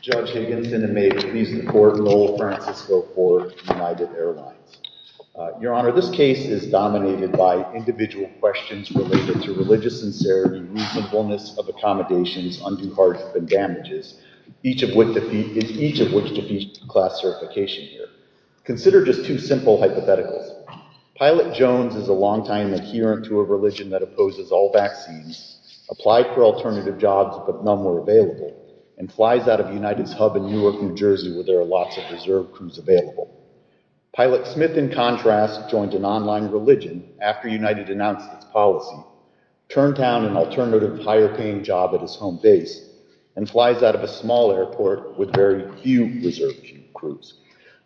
Judge Higginson, and may it please the court, Noel Francisco for United Airlines. Your Honor, this case is dominated by individual questions related to religious sincerity, reasonableness of accommodations, undue hardship, and damages, each of which defeats the class certification here. Consider just two simple hypotheticals. Pilot Jones is a long-time adherent to a religion that opposes all vaccines, applied for alternative jobs but none were available, and flies out of United's hub in Newark, New Jersey where there are lots of reserve crews available. Pilot Smith, in contrast, joined an online religion after United announced its policy, turned down an alternative, higher-paying job at his home base, and flies out of a small airport with very few reserve crews.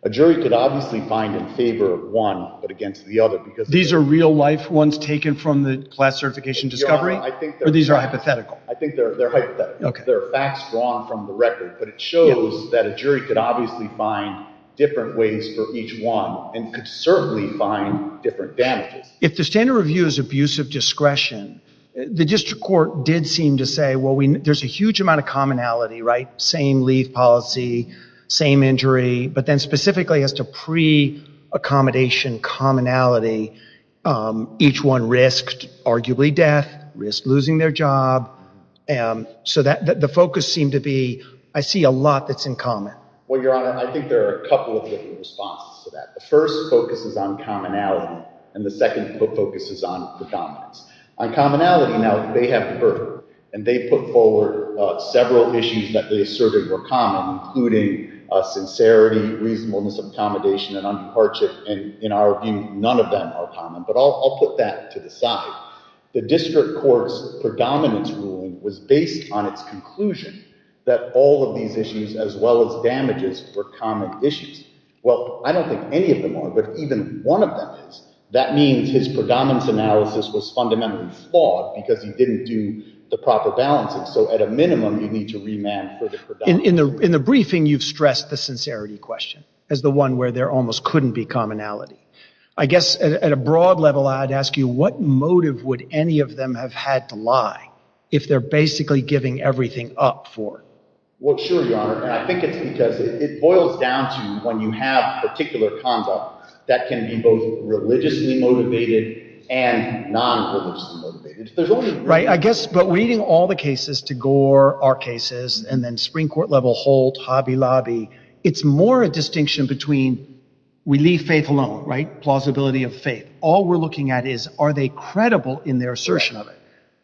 A jury could obviously find in favor of one but against the other. These are real-life ones taken from the class certification discovery, or these are hypothetical? I think they're hypothetical. There are facts drawn from the record, but it shows that a jury could obviously find different ways for each one, and could certainly find different damages. If the standard review is abuse of discretion, the district court did seem to say, well, there's a huge amount of commonality, right? Same leave policy, same injury, but then specifically as to pre-accommodation commonality, each one risked arguably death, risked losing their job, so the focus seemed to be, I see a lot that's in common. Well, Your Honor, I think there are a couple of different responses to that. The first focuses on commonality, and the second focuses on predominance. On commonality, now, they have deferred, and they put forward several issues that they asserted were common, including sincerity, reasonableness of accommodation, and undue hardship, and in our view, none of them are common, but I'll put that to the side. The district court's predominance ruling was based on its conclusion that all of these issues, as well as damages, were common issues. Well, I don't think any of them are, but even one of them is. That means his predominance analysis was fundamentally flawed because he didn't do the proper balancing, so at a minimum, you need to remand for the predominance. In the briefing, you've stressed the sincerity question as the one where there almost couldn't be commonality. I guess at a broad level, I'd ask you what motive would any of them have had to lie if they're basically giving everything up for it? Well, sure, Your Honor, and I think it's because it boils down to when you have particular conduct that can be both religiously motivated and non-religiously motivated. Right, I guess, but weeding all the cases to Gore, our cases, and then Supreme Court level, Holt, Hobby Lobby, it's more a distinction between we leave faith alone, right? Plausibility of faith. All we're looking at is are they credible in their assertion of it?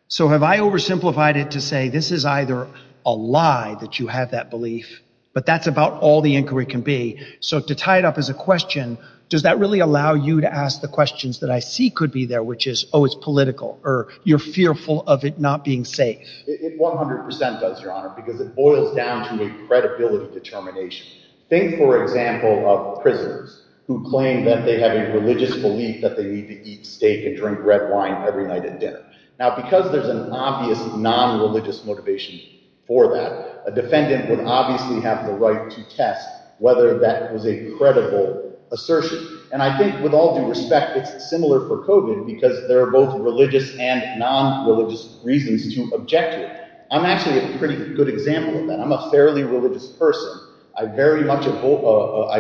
So have I oversimplified it to say this is either a lie that you have that belief, but that's about all the inquiry can be. So to tie it up as a question, does that really allow you to ask the questions that I see could be there, which is, oh, it's political, or you're fearful of it not being safe? It 100% does, Your Honor, because it boils down to a credibility determination. Think, for example, of prisoners who claim that they have a religious belief that they need to eat steak and drink red wine every night at dinner. Now, because there's an obvious non-religious motivation for that, a defendant would obviously have the right to test whether that was a credible assertion. And I think with all due respect, it's similar for COVID, because there are both religious and non-religious reasons to object to it. I'm actually a pretty good example of that. I'm a fairly religious person. I very much oppose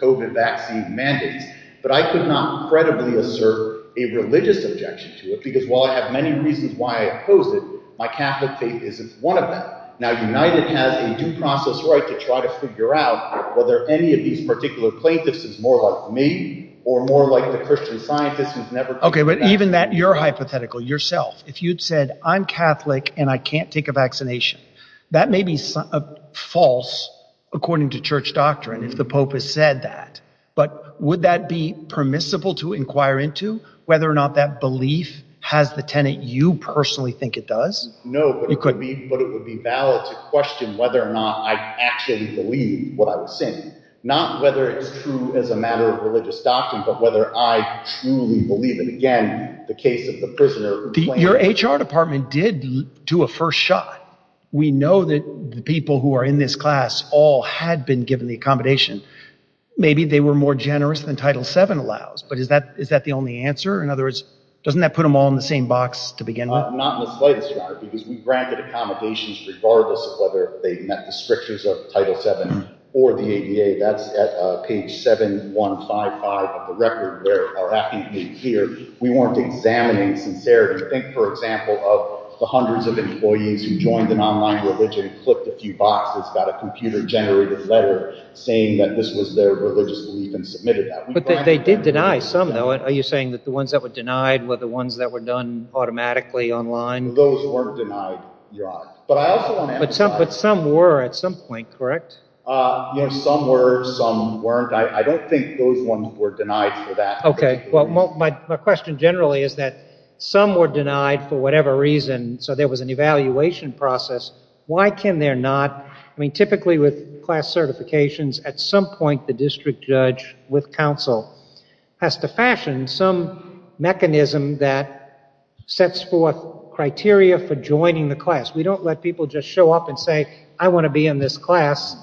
COVID vaccine mandates, but I could not credibly assert a religious objection to it, because while I have many reasons why I oppose it, my Catholic faith isn't one of them. Now, United has a due process right to try to figure out whether any of these particular plaintiffs is more like me, or more like the Christian scientist who's never... Okay, but even that, your hypothetical, yourself, if you'd said, I'm Catholic, and I can't take a vaccination, that may be false, according to church doctrine, if the Pope has said that. But would that be permissible to inquire into, whether or not that belief has the tenant you personally think it does? No, but it would be valid to question whether or not I actually believe what I was saying. Not whether it's true as a matter of religious doctrine, but whether I truly believe it. Again, the case of the prisoner... Your HR department did do a first shot. We know that the people who are in this class all had been given the accommodation. Maybe they were more generous than Title VII allows, but is that the only answer? In other words, doesn't that put them all in the same box to begin with? Not in the slightest, Your Honor, because we granted accommodations regardless of whether they met the strictures of Title VII or the ADA. That's at page 7155 of the record, where our affidavit is here. We weren't examining sincerity. Think, for example, of the hundreds of employees who joined an online religion, flipped a few boxes, got a computer-generated letter saying that this was their religious belief and submitted that. But they did deny some, though. Are you saying that the ones that were denied were the ones that were done automatically online? Those weren't denied, Your Honor. But I also want to emphasize... But some were at some point, correct? Some were, some weren't. I don't think those ones were denied for that particular reason. Okay. Well, my question generally is that some were denied for whatever reason, so there was an evaluation process. Why can there not... I mean, typically with class certifications, at some point the district judge with counsel has to fashion some mechanism that sets forth criteria for joining the class. We don't let people just show up and say, I want to be in this class.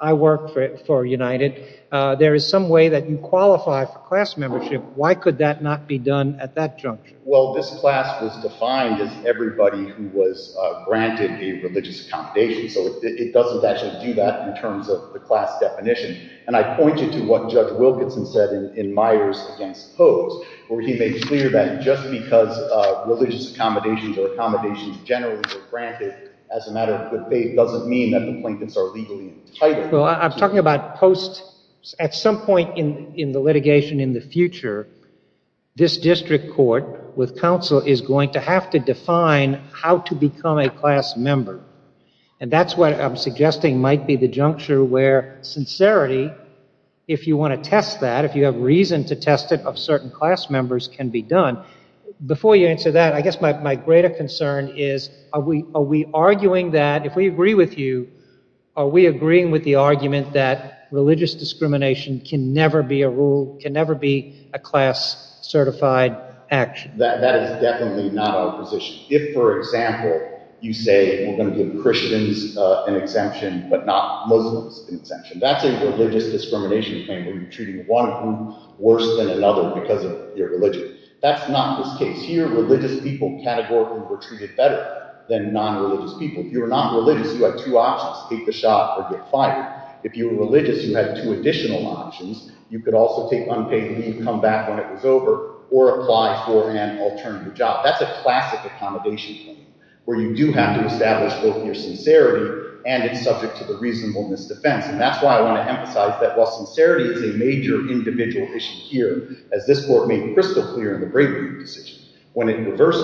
I work for United. There is some way that you qualify for class membership. Why could that not be done at that juncture? Well, this class was defined as everybody who was granted a religious accommodation, so it doesn't actually do that in terms of the class definition. And I pointed to what Judge Wilkinson said in Myers against Hoves, where he made clear that just because religious accommodations or accommodations generally were granted as a matter of good faith doesn't mean that the plaintiffs are legally entitled. Well, I'm talking about post... At some point in the litigation in the future, this district court with counsel is going to have to define how to become a class member. And that's what I'm suggesting might be the juncture where sincerity, if you want to test that, if you have reason to test it, of certain class members can be done. Before you answer that, I guess my greater concern is, are we arguing that... If we agree with you, are we agreeing with the argument that religious discrimination can never be a rule, can never be a class-certified action? That is definitely not our position. If, for example, you say we're going to give Christians an exemption but not Muslims an exemption, that's a religious discrimination claim where you're treating one of them worse than another because of your religion. That's not this case. Here, religious people categorically were treated better than non-religious people. If you were not religious, you had two options, take the shot or get fired. If you were religious, you had two additional options. You could also take unpaid leave, come back when it was over, or apply for an alternative job. That's a classic accommodation claim where you do have to establish both your sincerity and it's subject to the reasonableness defense. And that's why I want to emphasize that while sincerity is a major individual issue here, as this court made crystal clear in the Bravery decision, when it reversed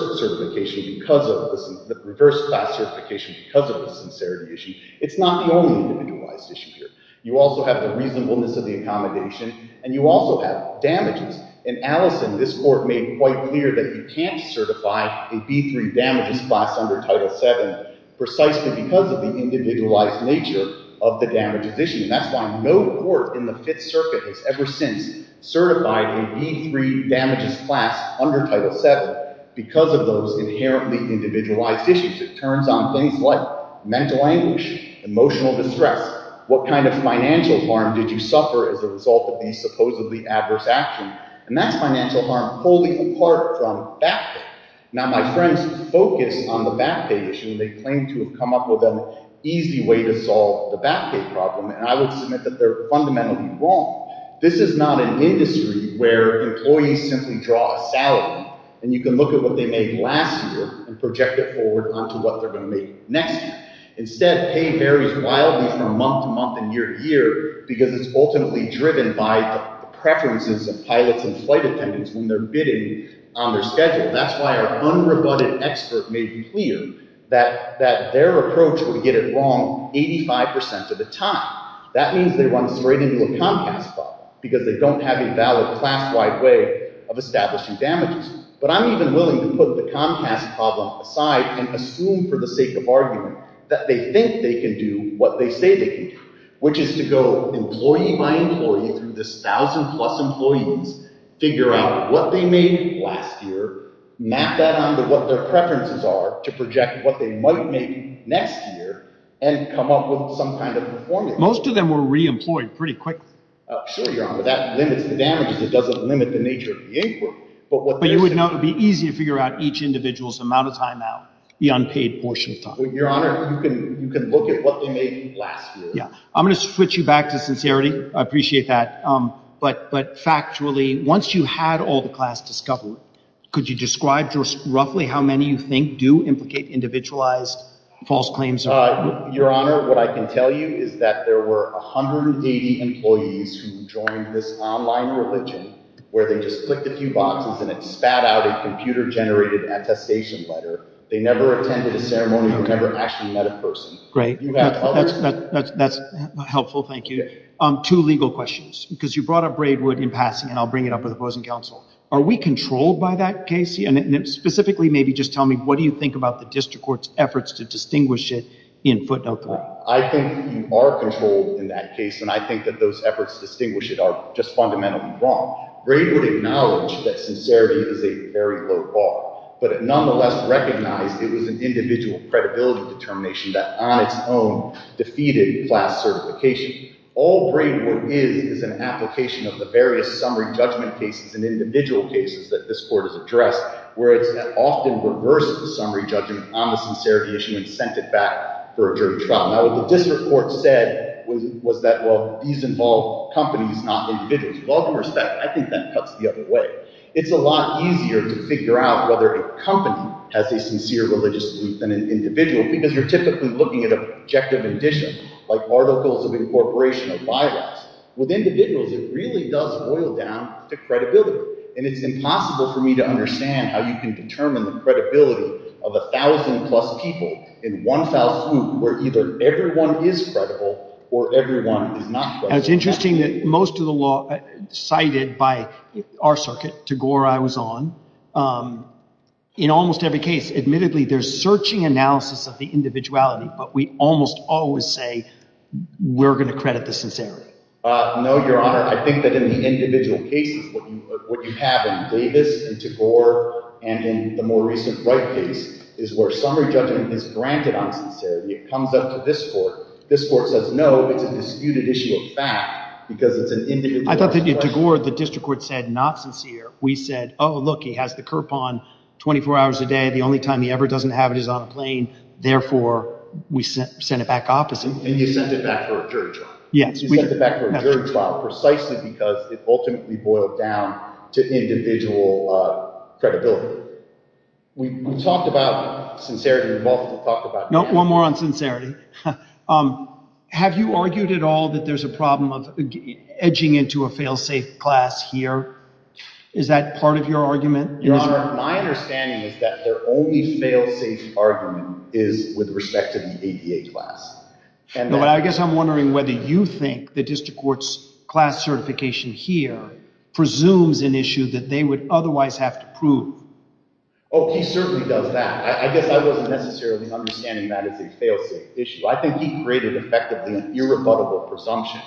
class certification because of the sincerity issue, it's not the only individualized issue here. You also have the reasonableness of the accommodation and you also have damages. In Allison, this court made quite clear that you can't certify a B3 damages class under Title VII precisely because of the individualized nature of the damages issue. And that's why no court in the Fifth Circuit has ever since certified a B3 damages class under Title VII because of those inherently individualized issues. It turns on things like mental anguish, emotional distress, what kind of financial harm did you suffer as a result of these supposedly adverse actions. And that's financial harm pulling apart from back pay. Now, my friends focus on the back pay issue. They claim to have come up with an easy way to solve the back pay problem. And I would submit that they're fundamentally wrong. This is not an industry where employees simply draw a salary and you can look at what they made last year and project it forward onto what they're going to make next year. Instead, pay varies wildly from month to month and year to year because it's ultimately driven by the preferences of pilots and flight attendants when they're bidding on their schedule. That's why our unrebutted expert made clear that their approach would get it wrong 85 percent of the time. That means they run straight into a Comcast problem because they don't have a valid class-wide way of establishing damages. But I'm even willing to put the Comcast problem aside and assume for the sake of argument that they think they can do what they say they can do, which is to go employee by employee through this thousand-plus employees, figure out what they made last year, map that onto what their preferences are to project what they might make next year, and come up with some kind of a formula. Most of them were reemployed pretty quickly. Sure, Your Honor. That limits the damages. It doesn't limit the nature of the inquiry. But you would know it would be easy to figure out each individual's amount of time out, the unpaid portion of time. Your Honor, you can look at what they made last year. I'm going to switch you back to sincerity. I appreciate that. But factually, once you had all the class discovered, could you describe roughly how many you think do implicate individualized false claims? Your Honor, what I can tell you is that there were 180 employees who joined this online religion where they just clicked a few boxes and it spat out a computer-generated attestation letter. They never attended a ceremony or never actually met a person. That's helpful. Thank you. Two legal questions, because you brought up Braidwood in passing, and I'll bring it up with opposing counsel. Are we controlled by that case? And specifically, maybe just tell me, what do you think about the district court's efforts to distinguish it in footnote 3? I think you are controlled in that case, and I think that those efforts to distinguish it are just fundamentally wrong. Braidwood acknowledged that sincerity is a very low bar, but it nonetheless recognized it was an individual credibility determination that on its own defeated class certification. All Braidwood is is an application of the various summary judgment cases and individual cases that this court has addressed, where it's often reversed the summary judgment on the sincerity issue and sent it back for a jury trial. Now, what the district court said was that, well, these involve companies, not individuals. With all due respect, I think that cuts the other way. It's a lot easier to figure out whether a company has a sincere religious belief than an individual, because you're typically looking at a projective addition, like articles of incorporation or bylaws. With individuals, it really does boil down to credibility. And it's impossible for me to understand how you can determine the credibility of 1,000 plus people in one fell swoop, where either everyone is credible or everyone is not credible. It's interesting that most of the law cited by our circuit, Tagore, I was on, in almost every case, admittedly, there's searching analysis of the individuality. But we almost always say we're going to credit the sincerity. No, Your Honor. I think that in the individual cases, what you have in Davis and Tagore and in the more recent Wright case is where summary judgment is granted on sincerity. It comes up to this court. This court says, no, it's a disputed issue of fact, because it's an individual. I thought that in Tagore, the district court said, not sincere. We said, oh, look, he has the curb on 24 hours a day. The only time he ever doesn't have it is on a plane. Therefore, we sent it back opposite. And you sent it back for a jury trial. Yes. You sent it back for a jury trial, precisely because it ultimately boiled down to individual credibility. We talked about sincerity. We've talked about that. One more on sincerity. Have you argued at all that there's a problem of edging into a fail-safe class here? Is that part of your argument? Your Honor, my understanding is that their only fail-safe argument is with respect to the ADA class. No, but I guess I'm wondering whether you think the district court's class certification here presumes an issue that they would otherwise have to prove. Oh, he certainly does that. I guess I wasn't necessarily understanding that as a fail-safe issue. I think he created effectively an irrebuttable presumption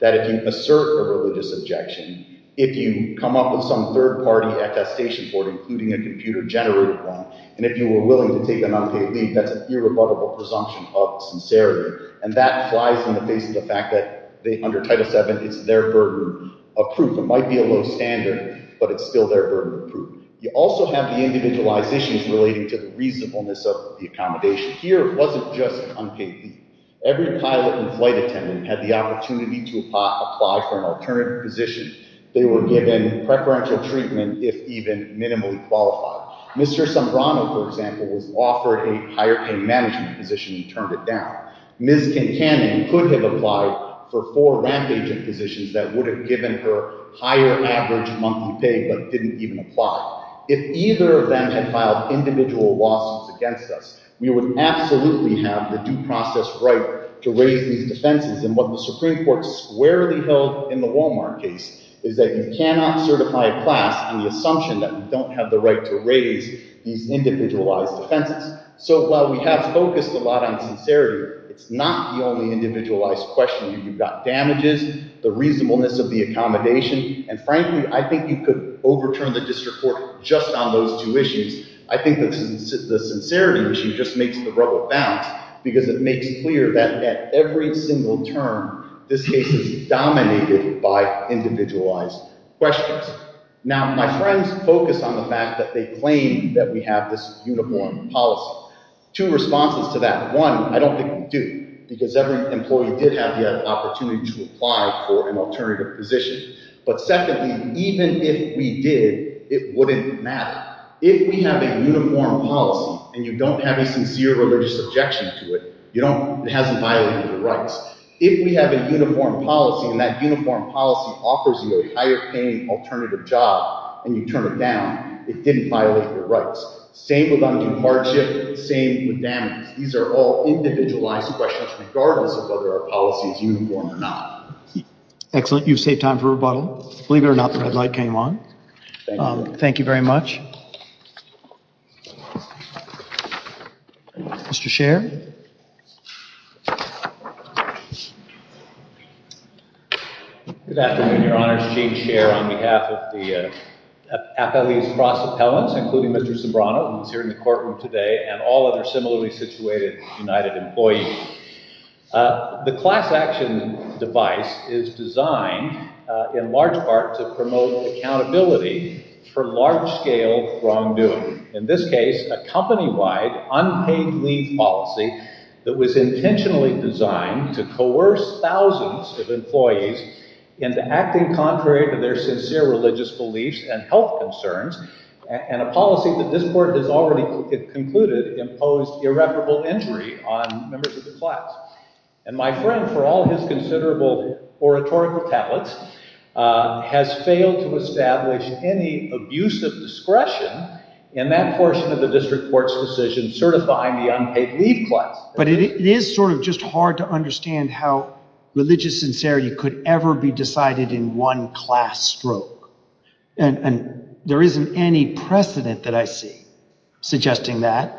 that if you assert a religious objection, if you come up with some third-party attestation for it, including a computer-generated one, and if you were willing to take an unpaid leave, that's an irrebuttable presumption of sincerity. And that flies in the face of the fact that under Title VII, it's their burden of proof. It might be a low standard, but it's still their burden of proof. You also have the individualizations relating to the reasonableness of the accommodation. Here, it wasn't just an unpaid leave. Every pilot and flight attendant had the opportunity to apply for an alternative position. They were given preferential treatment, if even minimally qualified. Mr. Sombrano, for example, was offered a higher-paying management position and turned it down. Ms. Kincannon could have applied for four ramp-agent positions that would have given her higher average monthly pay, but didn't even apply. If either of them had filed individual lawsuits against us, we would absolutely have the due process right to raise these defenses. And what the Supreme Court squarely held in the Walmart case is that you cannot certify a class on the assumption that you don't have the right to raise these individualized defenses. So while we have focused a lot on sincerity, it's not the only individualized question. You've got damages, the reasonableness of the accommodation, and frankly, I think you could overturn the district court just on those two issues. I think the sincerity issue just makes the rubble bounce because it makes clear that at every single term, this case is dominated by individualized questions. Now, my friends focus on the fact that they claim that we have this uniform policy. Two responses to that. One, I don't think we do because every employee did have the opportunity to apply for an alternative position. But secondly, even if we did, it wouldn't matter. If we have a uniform policy and you don't have a sincere religious objection to it, it hasn't violated your rights. If we have a uniform policy and that uniform policy offers you a higher-paying alternative job and you turn it down, it didn't violate your rights. Same with undue hardship, same with damages. These are all individualized questions regardless of whether our policy is uniform or not. Excellent. You've saved time for rebuttal. Believe it or not, the red light came on. Thank you. Thank you very much. Mr. Scherr. Good afternoon, Your Honors. Gene Scherr on behalf of the appellees' cross appellants, including Mr. Sobrano, who is another similarly situated United employee. The class action device is designed in large part to promote accountability for large-scale wrongdoing. In this case, a company-wide unpaid leave policy that was intentionally designed to coerce thousands of employees into acting contrary to their sincere religious beliefs and health concerns, and a policy that this court has already concluded imposed irreparable injury on members of the class. And my friend, for all his considerable oratorical talents, has failed to establish any abusive discretion in that portion of the district court's decision certifying the unpaid leave class. But it is sort of just hard to understand how religious sincerity could ever be decided in one class stroke. And there isn't any precedent that I see suggesting that.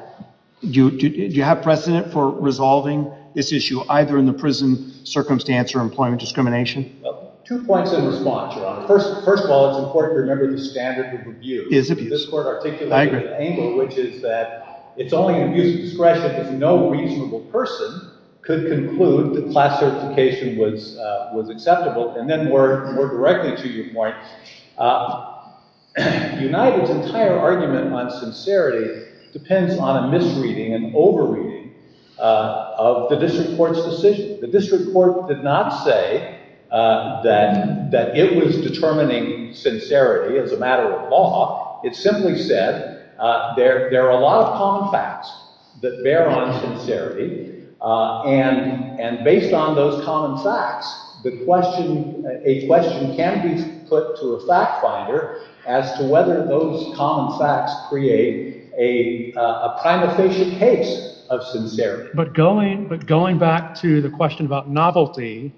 Do you have precedent for resolving this issue either in the prison circumstance or employment discrimination? Two points in response, Your Honor. First of all, it's important to remember the standard of review. It is abuse. This court articulated an angle, which is that it's only abuse of discretion if no reasonable person could conclude that class certification was acceptable. And then more directly to your point, United's entire argument on sincerity depends on a misreading and over-reading of the district court's decision. The district court did not say that it was determining sincerity as a matter of law. It simply said there are a lot of common facts that bear on sincerity. And based on those common facts, a question can be put to a fact finder as to whether those common facts create a prima facie case of sincerity. But going back to the question about novelty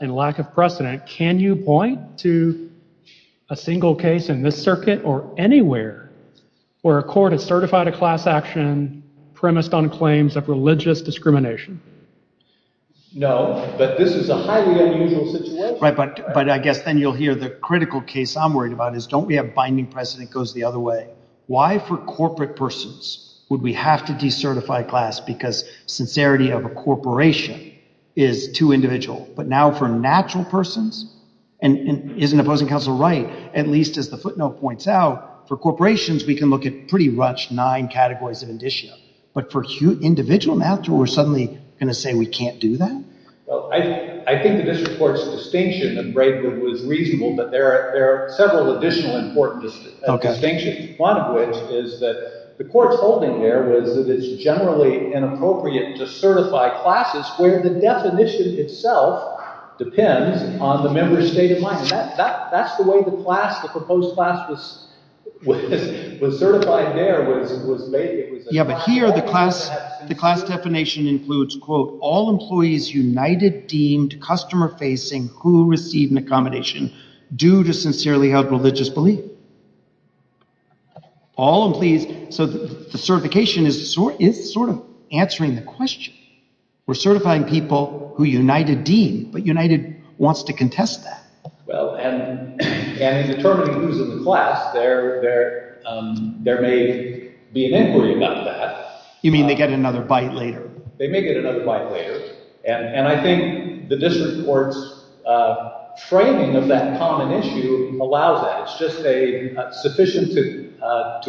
and lack of precedent, can you point to a single case in this circuit or anywhere where a court has certified a class action premised on claims of religious discrimination? No, but this is a highly unusual situation. Right, but I guess then you'll hear the critical case I'm worried about is don't we have binding precedent that goes the other way? Why for corporate persons would we have to decertify class because sincerity of a corporation is too individual? But now for natural persons, and isn't the opposing counsel right, at least as the footnote points out, for corporations we can look at pretty much nine categories in addition. But for individual natural, we're suddenly going to say we can't do that? Well, I think the district court's distinction of Breitbart was reasonable, but there are several additional important distinctions. One of which is that the court's holding there was that it's generally inappropriate to certify classes where the definition itself depends on the member's state of mind. That's the way the class, the proposed class was certified there. Yeah, but here the class definition includes, quote, all employees united deemed customer facing who receive an accommodation due to sincerely held religious belief. All employees, so the certification is sort of answering the question. We're certifying people who united deemed, but united wants to contest that. Well, and in determining who's in the class, there may be an inquiry about that. You mean they get another bite later? They may get another bite later. And I think the district court's framing of that common issue allows that. It's just sufficient to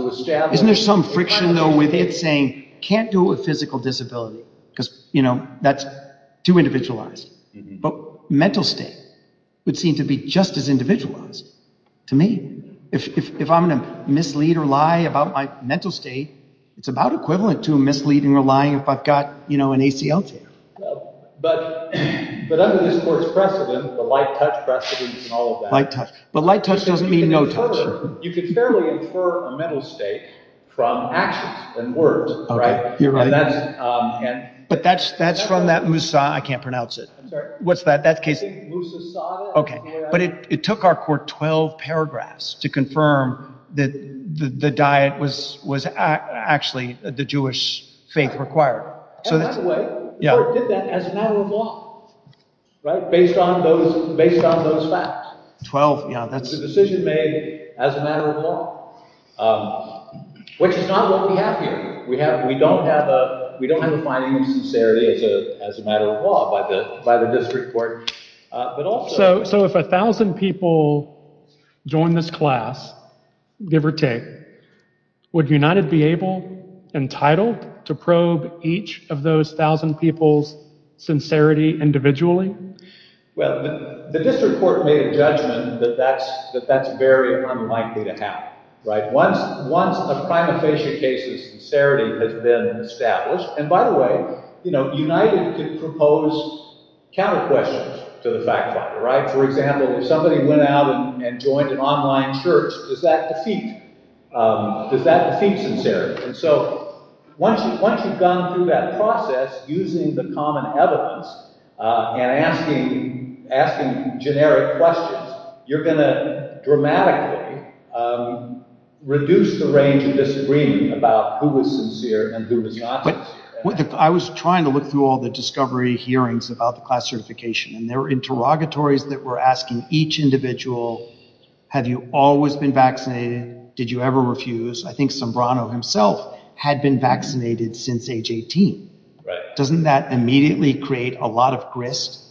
establish- Isn't there some friction, though, with it saying can't do it with physical disability? Because that's too individualized. But mental state would seem to be just as individualized to me. If I'm going to mislead or lie about my mental state, it's about equivalent to misleading or lying if I've got an ACL tear. But under this court's precedent, the light touch precedent and all of that- Light touch. But light touch doesn't mean no touch. You can fairly infer a mental state from actions and words, right? But that's from that Musa- I can't pronounce it. What's that? Musa Sada? But it took our court 12 paragraphs to confirm that the diet was actually the Jewish faith required. And by the way, the court did that as a matter of law, right? Based on those facts. 12, yeah. It's a decision made as a matter of law, which is not what we have here. We don't have a finding of sincerity as a matter of law by the district court, but also- So if 1,000 people join this class, give or take, would United be able, entitled, to probe each of those 1,000 people's sincerity individually? Well, the district court made a judgment that that's very unlikely to happen, right? Once a prima facie case of sincerity has been established- And by the way, United could propose counter questions to the fact finder, right? For example, if somebody went out and joined an online church, does that defeat sincerity? And so once you've gone through that process using the common evidence and asking generic questions, you're going to dramatically reduce the range of disagreeing about who was sincere and who was not sincere. I was trying to look through all the discovery hearings about the class certification, and there were interrogatories that were asking each individual, have you always been vaccinated? Did you ever refuse? I think Sombrano himself had been vaccinated since age 18. Doesn't that immediately create a lot of grist?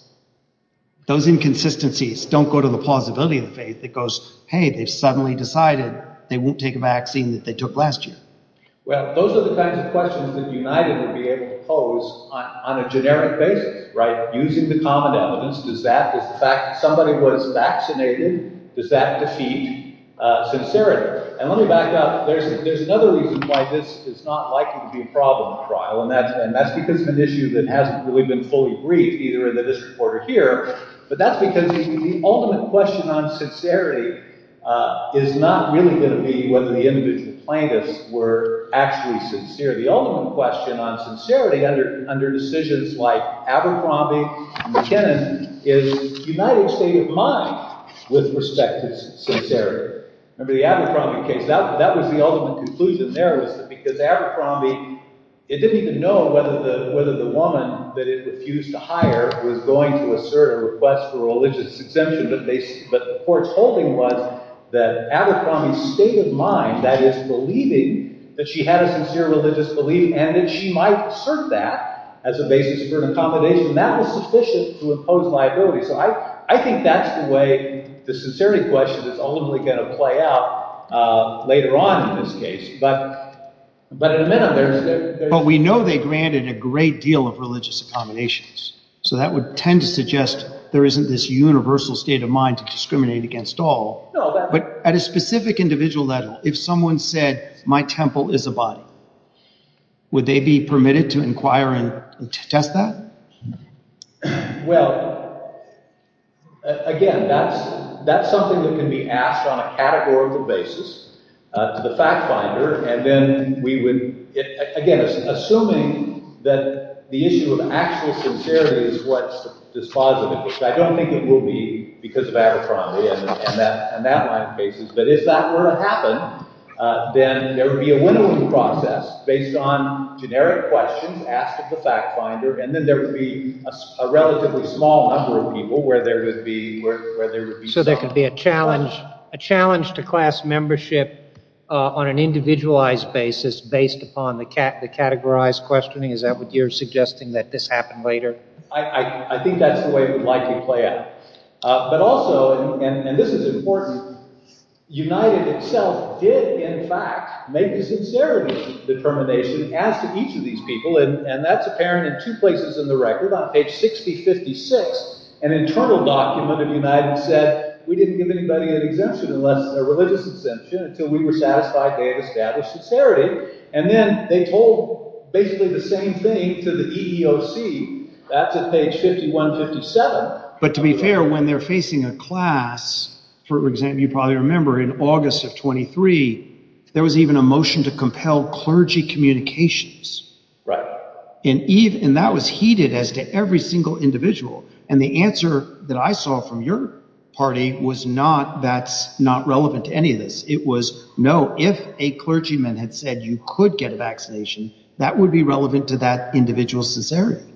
Those inconsistencies don't go to the plausibility of the faith. It goes, hey, they've suddenly decided they won't take a vaccine that they took last year. Well, those are the kinds of questions that United would be able to pose on a generic basis, right? Using the common evidence, does that- If somebody was vaccinated, does that defeat sincerity? And let me back up. There's another reason why this is not likely to be a problem at trial, and that's because of an issue that hasn't really been fully briefed, either in this report or here. But that's because the ultimate question on sincerity is not really going to be whether the individual plaintiffs were actually sincere. The ultimate question on sincerity under decisions like Abercrombie and McKinnon is United's state of mind with respect to sincerity. Remember the Abercrombie case? That was the ultimate conclusion there was that because Abercrombie- It didn't even know whether the woman that it refused to hire was going to assert a request for a religious exemption, but the court's holding was that Abercrombie's state of mind, that is, believing that she had a sincere religious belief and that she might assert that as a basis for an accommodation, that was sufficient to impose liability. So I think that's the way the sincerity question is ultimately going to play out later on in this case. But in a minute, there's- But we know they granted a great deal of religious accommodations, so that would tend to suggest there isn't this universal state of mind to discriminate against all. But at a specific individual level, if someone said, my temple is a body, would they be permitted to inquire and test that? Well, again, that's something that can be asked on a categorical basis to the fact finder, and then we would, again, assuming that the issue of actual sincerity is what's dispositive, which I don't think it will be because of Abercrombie and that line of cases, but if that were to happen, then there would be a winnowing process based on generic questions asked of the fact finder, and then there would be a relatively small number of people where there would be- So there could be a challenge to class membership on an individualized basis based upon the categorized questioning? Is that what you're suggesting, that this happened later? I think that's the way it would likely play out. But also, and this is important, United itself did, in fact, make a sincerity determination as to each of these people, and that's apparent in two places in the record. On page 6056, an internal document of United said we didn't give anybody a religious exemption until we were satisfied they had established sincerity, and then they told basically the same thing to the EEOC. That's at page 5157. But to be fair, when they're facing a class, for example, you probably remember in August of 23, there was even a motion to compel clergy communications. Right. And that was heeded as to every single individual, and the answer that I saw from your party was not that's not relevant to any of this. It was no, if a clergyman had said you could get a vaccination, that would be relevant to that individual's sincerity.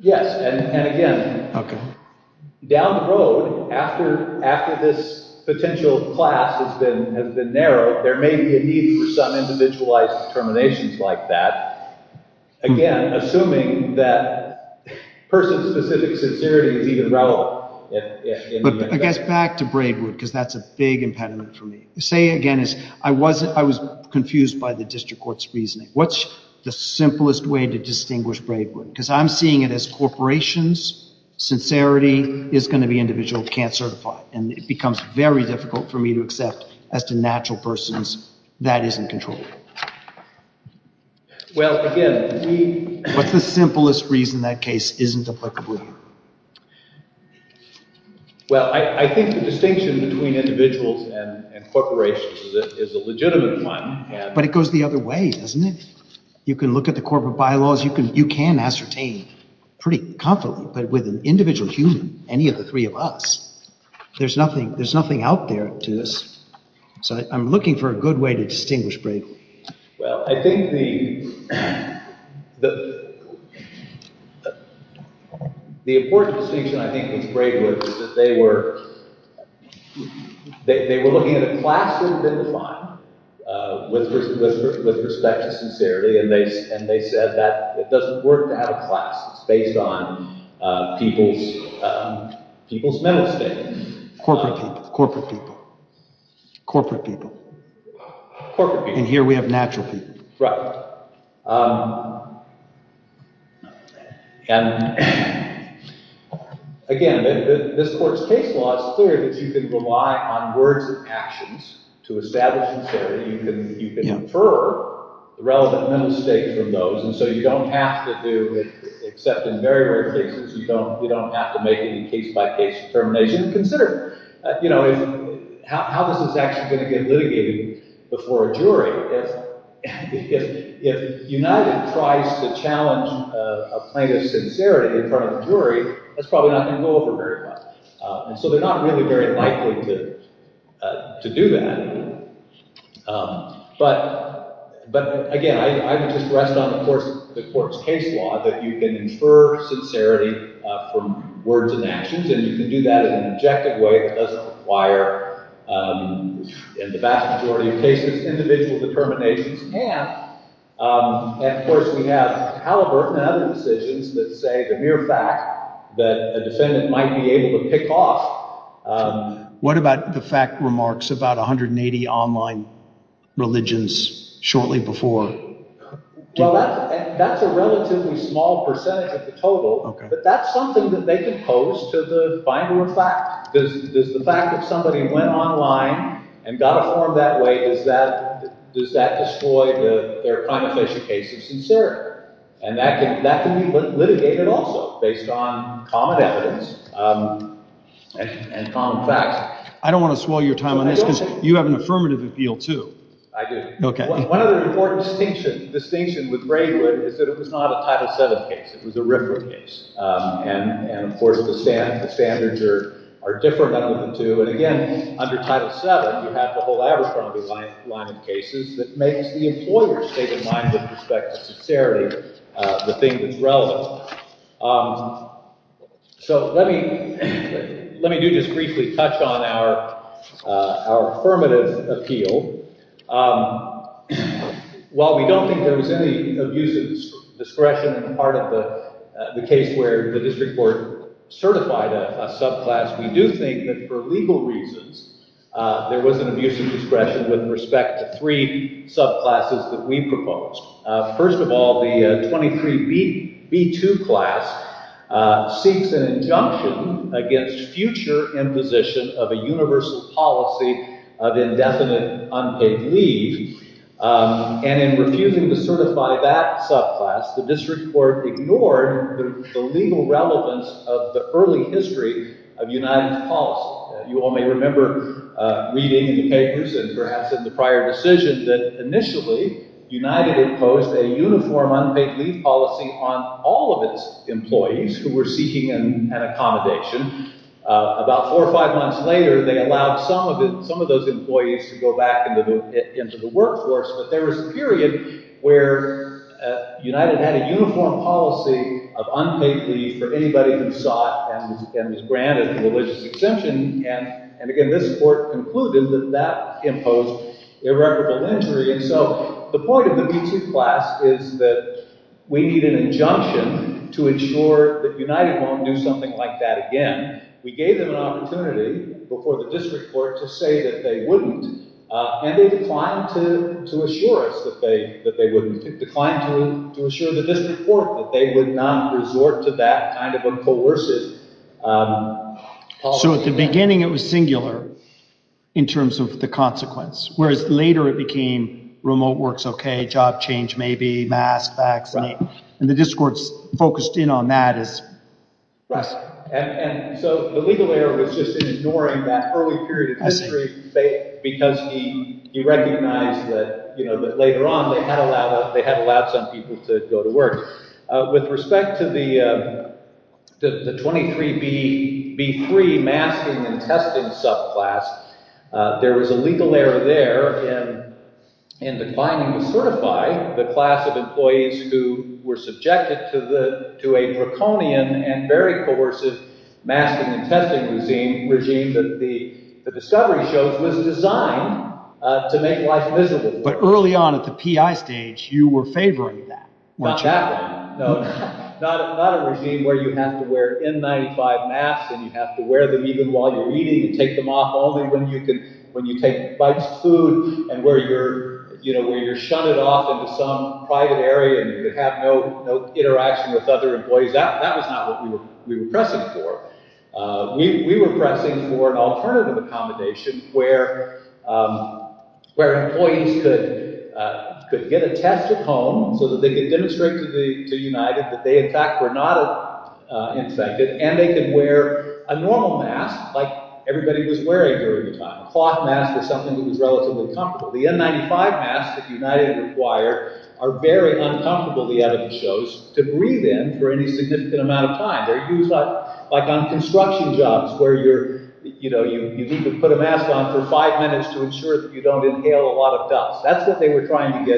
Yes, and again, down the road, after this potential class has been narrowed, there may be a need for some individualized determinations like that. Again, assuming that person-specific sincerity is even relevant. But I guess back to Braidwood, because that's a big impediment for me. Say again, I was confused by the district court's reasoning. What's the simplest way to distinguish Braidwood? Because I'm seeing it as corporations, sincerity is going to be individual, can't certify, and it becomes very difficult for me to accept as to natural persons, that isn't controlled. Well, again, we— What's the simplest reason that case isn't applicable here? Well, I think the distinction between individuals and corporations is a legitimate one. But it goes the other way, doesn't it? You can look at the corporate bylaws. You can ascertain pretty confidently, but with an individual human, any of the three of us, there's nothing out there to this. So I'm looking for a good way to distinguish Braidwood. Well, I think the important distinction, I think, with Braidwood is that they were looking at a class that had been defined with respect to sincerity, and they said that it doesn't work to have a class that's based on people's mental state. Corporate people, corporate people, corporate people. Corporate people. And here we have natural people. And, again, this court's case law is clear that you can rely on words and actions to establish sincerity. You can infer the relevant mental state from those, and so you don't have to do— except in very rare cases, you don't have to make any case-by-case determination. Consider, you know, how this is actually going to get litigated before a jury. If United tries to challenge a plaintiff's sincerity in front of a jury, that's probably not going to go over very well. And so they're not really very likely to do that. But, again, I would just rest on the court's case law that you can infer sincerity from words and actions, and you can do that in an objective way that doesn't require, in the vast majority of cases, individual determinations. And, of course, we have Halliburton and other decisions that say the mere fact that a defendant might be able to pick off. What about the fact remarks about 180 online religions shortly before? Well, that's a relatively small percentage of the total, but that's something that they can pose to the finder of fact. Does the fact that somebody went online and got informed that way, does that destroy their crime-official case of sincerity? And that can be litigated also, based on common evidence and common facts. I don't want to swallow your time on this, because you have an affirmative appeal, too. I do. One other important distinction with Braidwood is that it was not a Title VII case. It was a RIFRA case. And, of course, the standards are different on all of them, too. And, again, under Title VII, you have the whole Abercrombie line of cases that makes the employer's state of mind with respect to sincerity the thing that's relevant. So let me do just briefly touch on our affirmative appeal. While we don't think there was any abuse of discretion in the part of the case where the district court certified a subclass, we do think that for legal reasons, there was an abuse of discretion with respect to three subclasses that we proposed. First of all, the 23B2 class seeks an injunction against future imposition of a universal policy of indefinite unpaid leave. And in refusing to certify that subclass, the district court ignored the legal relevance of the early history of United's policy. You all may remember reading in the papers and perhaps in the prior decisions that initially United imposed a uniform unpaid leave policy on all of its employees who were seeking an accommodation. About four or five months later, they allowed some of those employees to go back into the workforce. But there was a period where United had a uniform policy of unpaid leave for anybody who sought and was granted a religious exemption. And again, this court concluded that that imposed irreparable injury. And so the point of the B2 class is that we need an injunction to ensure that United won't do something like that again. We gave them an opportunity before the district court to say that they wouldn't. And they declined to assure us that they wouldn't. They declined to assure the district court that they would not resort to that kind of uncoerced policy. So at the beginning, it was singular in terms of the consequence, whereas later it became remote works, OK, job change, maybe mask, vaccine. And the district court focused in on that. And so the legal error was just in ignoring that early period of history because he recognized that later on they had allowed some people to go to work. With respect to the 23B3 masking and testing subclass, there was a legal error there in declining to certify the class of employees who were subjected to a draconian and very coercive masking and testing regime that the discovery shows was designed to make life visible. But early on at the PI stage, you were favoring that. No, not a regime where you have to wear N95 masks and you have to wear them even while you're eating and take them off only when you take bites of food and where you're shunted off into some private area and you have no interaction with other employees. That was not what we were pressing for. We were pressing for an alternative accommodation where employees could get a test at home so that they could demonstrate to United that they, in fact, were not infected and they could wear a normal mask like everybody was wearing during the time. A cloth mask is something that was relatively comfortable. The N95 masks that United required are very uncomfortable, the evidence shows, to breathe in for any significant amount of time. They're used like on construction jobs where you need to put a mask on for five minutes to ensure that you don't inhale a lot of dust. That's what they were trying to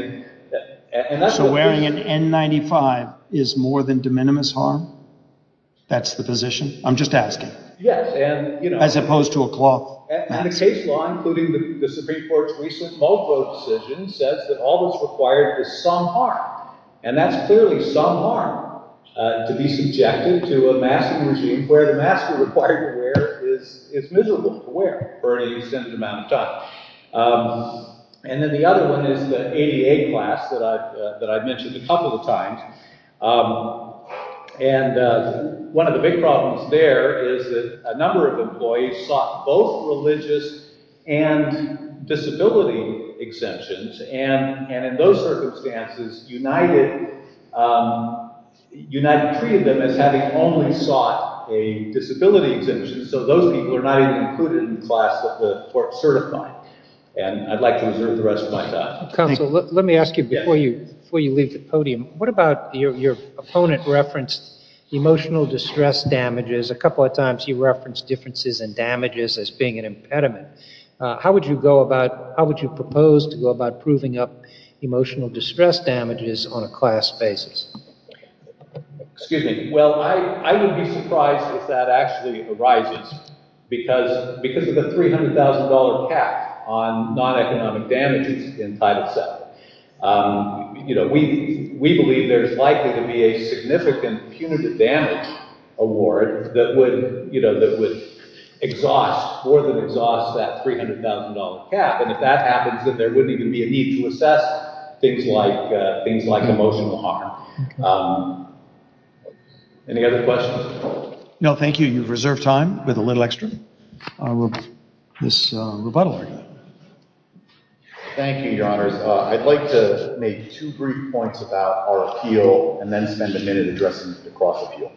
get. So wearing an N95 is more than de minimis harm? That's the position? I'm just asking. Yes. As opposed to a cloth mask. And the case law, including the Supreme Court's recent Mulvow decision, says that all that's required is some harm. And that's clearly some harm to be subjected to a masking regime where the mask you're required to wear is miserable to wear for any significant amount of time. And then the other one is the ADA class that I've mentioned a couple of times. And one of the big problems there is that a number of employees sought both religious and disability exemptions. And in those circumstances, United treated them as having only sought a disability exemption. So those people are not even included in the class that the court certified. And I'd like to reserve the rest of my time. Counsel, let me ask you before you leave the podium. What about your opponent referenced emotional distress damages? A couple of times he referenced differences in damages as being an impediment. How would you propose to go about proving up emotional distress damages on a class basis? Excuse me. Well, I would be surprised if that actually arises because of the $300,000 cap on non-economic damages in Title VII. We believe there's likely to be a significant punitive damage award that would exhaust, more than exhaust that $300,000 cap. And if that happens, then there wouldn't even be a need to assess things like emotional harm. Any other questions? No, thank you. You've reserved time with a little extra. This rebuttal argument. Thank you, Your Honors. I'd like to make two brief points about our appeal and then spend a minute addressing the cross appeal.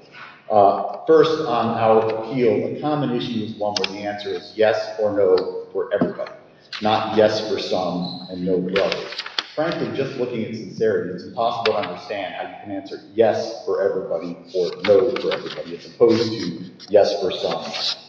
First, on our appeal, a common issue is one where the answer is yes or no for everybody. Not yes for some and no for others. Frankly, just looking at sincerity, it's impossible to understand how you can answer yes for everybody or no for everybody, as opposed to yes for some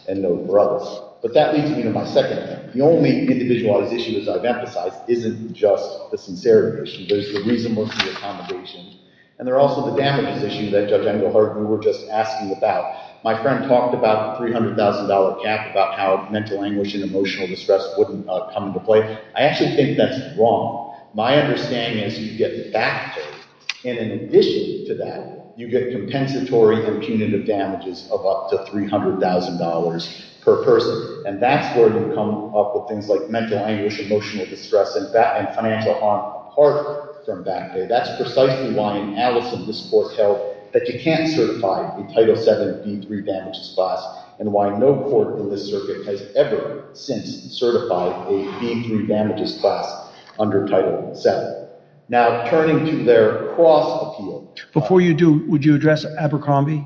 and no for others. But that leads me to my second point. The only individualized issue, as I've emphasized, isn't just the sincerity issue. There's the reasonableness of the accommodation. And there are also the damages issues that Judge Engelhardt and we were just asking about. My friend talked about the $300,000 cap, about how mental anguish and emotional distress wouldn't come into play. I actually think that's wrong. My understanding is you get back pay. And in addition to that, you get compensatory and punitive damages of up to $300,000 per person. And that's where you come up with things like mental anguish, emotional distress, and financial harm apart from back pay. That's precisely why an analyst in this court held that you can't certify a Title VII v. 3 damages class and why no court in this circuit has ever since certified a v. 3 damages class under Title VII. Now, turning to their cross-appeal— Before you do, would you address Abercrombie?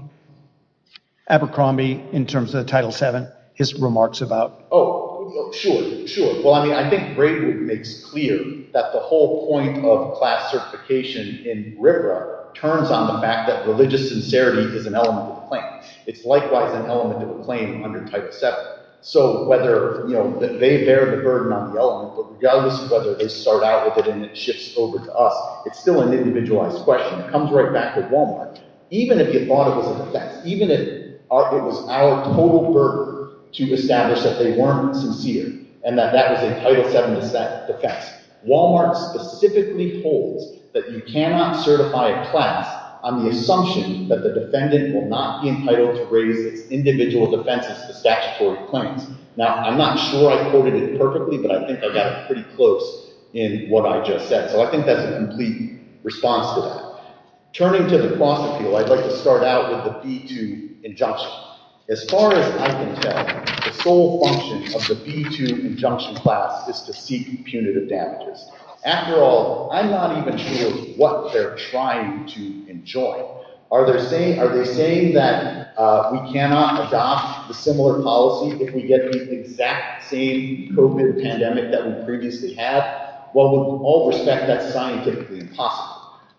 Abercrombie in terms of Title VII, his remarks about— Oh, sure, sure. I think Braywood makes clear that the whole point of class certification in RIPRA turns on the fact that religious sincerity is an element of the claim. It's likewise an element of the claim under Title VII. So whether they bear the burden on the element, but regardless of whether they start out with it and it shifts over to us, it's still an individualized question. It comes right back to Walmart. Even if you thought it was an offense, even if it was our total burden to establish that they weren't sincere and that that was a Title VII offense, Walmart specifically holds that you cannot certify a class on the assumption that the defendant will not be entitled to raise its individual defenses to statutory claims. Now, I'm not sure I quoted it perfectly, but I think I got it pretty close in what I just said. So I think that's a complete response to that. Turning to the clause appeal, I'd like to start out with the B-2 injunction. As far as I can tell, the sole function of the B-2 injunction class is to seek punitive damages. After all, I'm not even sure what they're trying to enjoy. Are they saying that we cannot adopt a similar policy if we get the exact same COVID pandemic that we previously had? Well, with all respect, that's scientifically impossible.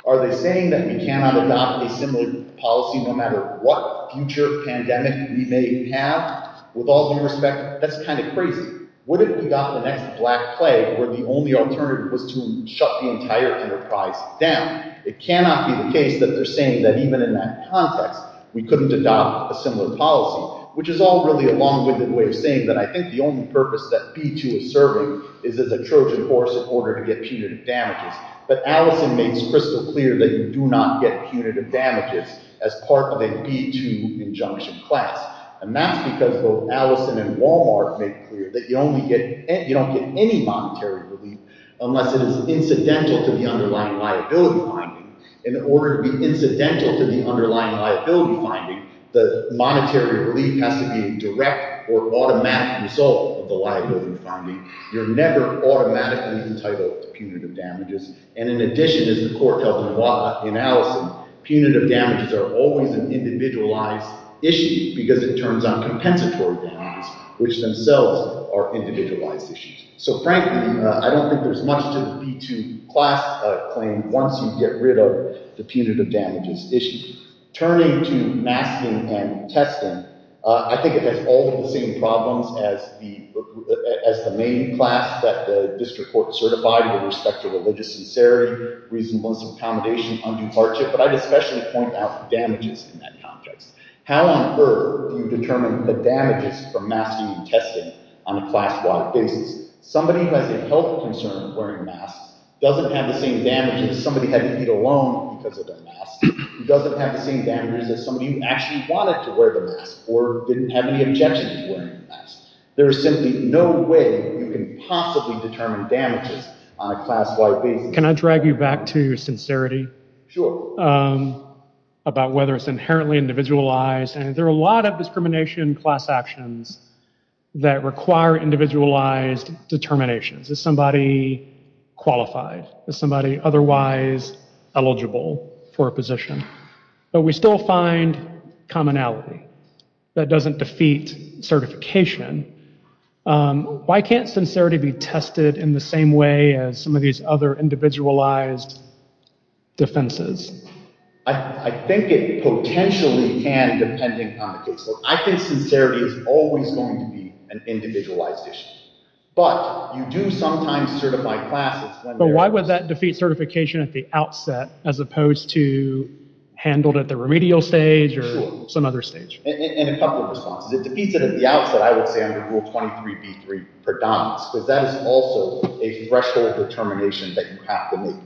Are they saying that we cannot adopt a similar policy no matter what future pandemic we may have? With all due respect, that's kind of crazy. What if we got the next Black Plague where the only alternative was to shut the entire enterprise down? It cannot be the case that they're saying that even in that context, we couldn't adopt a similar policy, which is all really a long-winded way of saying that I think the only purpose that B-2 is serving is as a Trojan horse in order to get punitive damages. But Allison makes crystal clear that you do not get punitive damages as part of a B-2 injunction class. And that's because both Allison and Walmart make clear that you don't get any monetary relief unless it is incidental to the underlying liability finding. In order to be incidental to the underlying liability finding, the monetary relief has to be a direct or automatic result of the liability finding. You're never automatically entitled to punitive damages. And in addition, as the court held in Allison, punitive damages are always an individualized issue because it turns on compensatory damages, which themselves are individualized issues. So frankly, I don't think there's much to the B-2 class claim once you get rid of the punitive damages issue. Turning to masking and testing, I think it has all of the same problems as the main class that the district court certified with respect to religious sincerity, reasonable accommodation, undue hardship. But I'd especially point out damages in that context. How on earth do you determine the damages from masking and testing on a class-wide basis? Somebody who has a health concern wearing masks doesn't have the same damages as somebody having to eat alone because of their mask. He doesn't have the same damages as somebody who actually wanted to wear the mask or didn't have any objection to wearing the mask. There is simply no way you can possibly determine damages on a class-wide basis. Can I drag you back to your sincerity? About whether it's inherently individualized. And there are a lot of discrimination class actions that require individualized determinations. Is somebody qualified? Is somebody otherwise eligible for a position? But we still find commonality. That doesn't defeat certification. Why can't sincerity be tested in the same way as some of these other individualized defenses? I think it potentially can depending on the case. I think sincerity is always going to be an individualized issue. But you do sometimes certify classes. But why would that defeat certification at the outset as opposed to handled at the remedial stage or some other stage? Sure. And a couple of responses. It defeats it at the outset, I would say, under Rule 23b-3, predominance, because that is also a threshold determination that you have to make.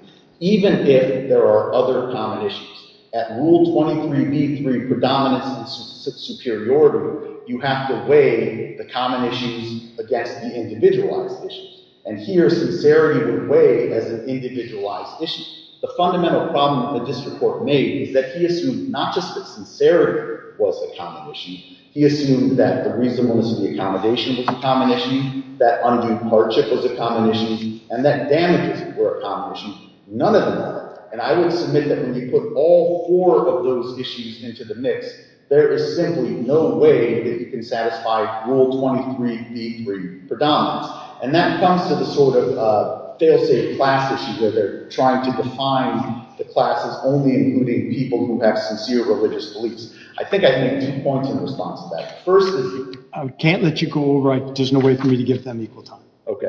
Even if there are other common issues, at Rule 23b-3, predominance and superiority, you have to weigh the common issues against the individualized issues. And here, sincerity would weigh as an individualized issue. The fundamental problem that this report made is that he assumed not just that sincerity was a common issue. He assumed that the reasonableness of the accommodation was a common issue, that undue hardship was a common issue, and that damages were a common issue. None of them are. And I would submit that when you put all four of those issues into the mix, there is simply no way that you can satisfy Rule 23b-3, predominance. And that comes to the sort of fail-safe class issue where they're trying to define the classes only including people who have sincere religious beliefs. I think I'd make two points in response to that. First is I can't let you go over it. There's no way for me to give them equal time.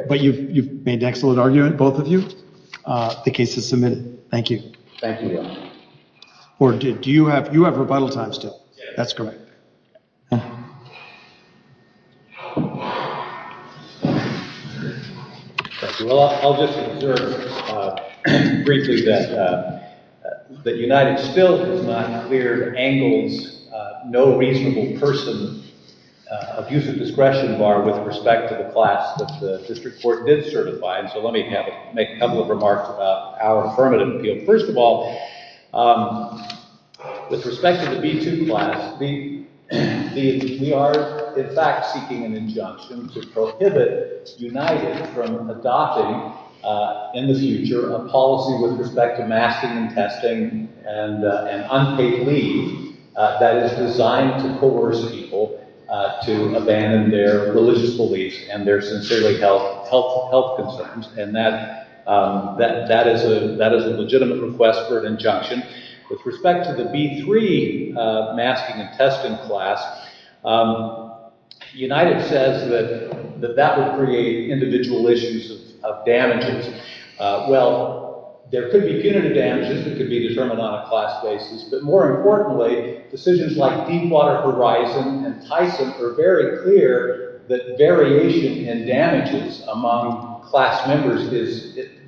But you've made excellent argument, both of you. The case is submitted. Thank you. Thank you. Or do you have rebuttal time still? That's correct. Well, I'll just observe briefly that United still has not cleared Angle's no reasonable person abuse of discretion bar with respect to the class that the district court did certify. And so let me make a couple of remarks about our affirmative appeal. First of all, with respect to the B2 class, we are, in fact, seeking an injunction to prohibit United from adopting in the future a policy with respect to masking and testing and unpaid leave that is designed to coerce people to abandon their religious beliefs and their sincerely health concerns. And that is a legitimate request for an injunction. With respect to the B3 masking and testing class, United says that that would create individual issues of damages. Well, there could be punitive damages that could be determined on a class basis. But more importantly, decisions like Deepwater Horizon and Tyson are very clear that variation in damages among class members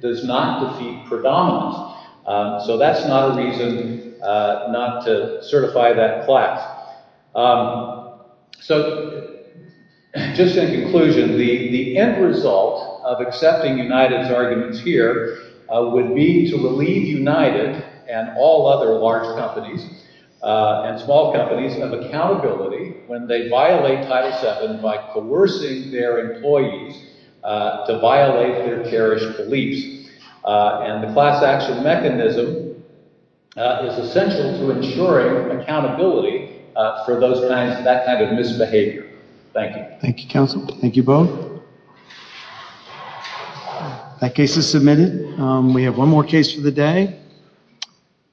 does not defeat predominance. So that's not a reason not to certify that class. So just in conclusion, the end result of accepting United's arguments here would be to relieve United and all other large companies and small companies of accountability when they violate Title VII by coercing their employees to violate their parish beliefs. And the class action mechanism is essential to ensuring accountability for that kind of misbehavior. Thank you. Thank you, counsel. Thank you both. That case is submitted. We have one more case for the day.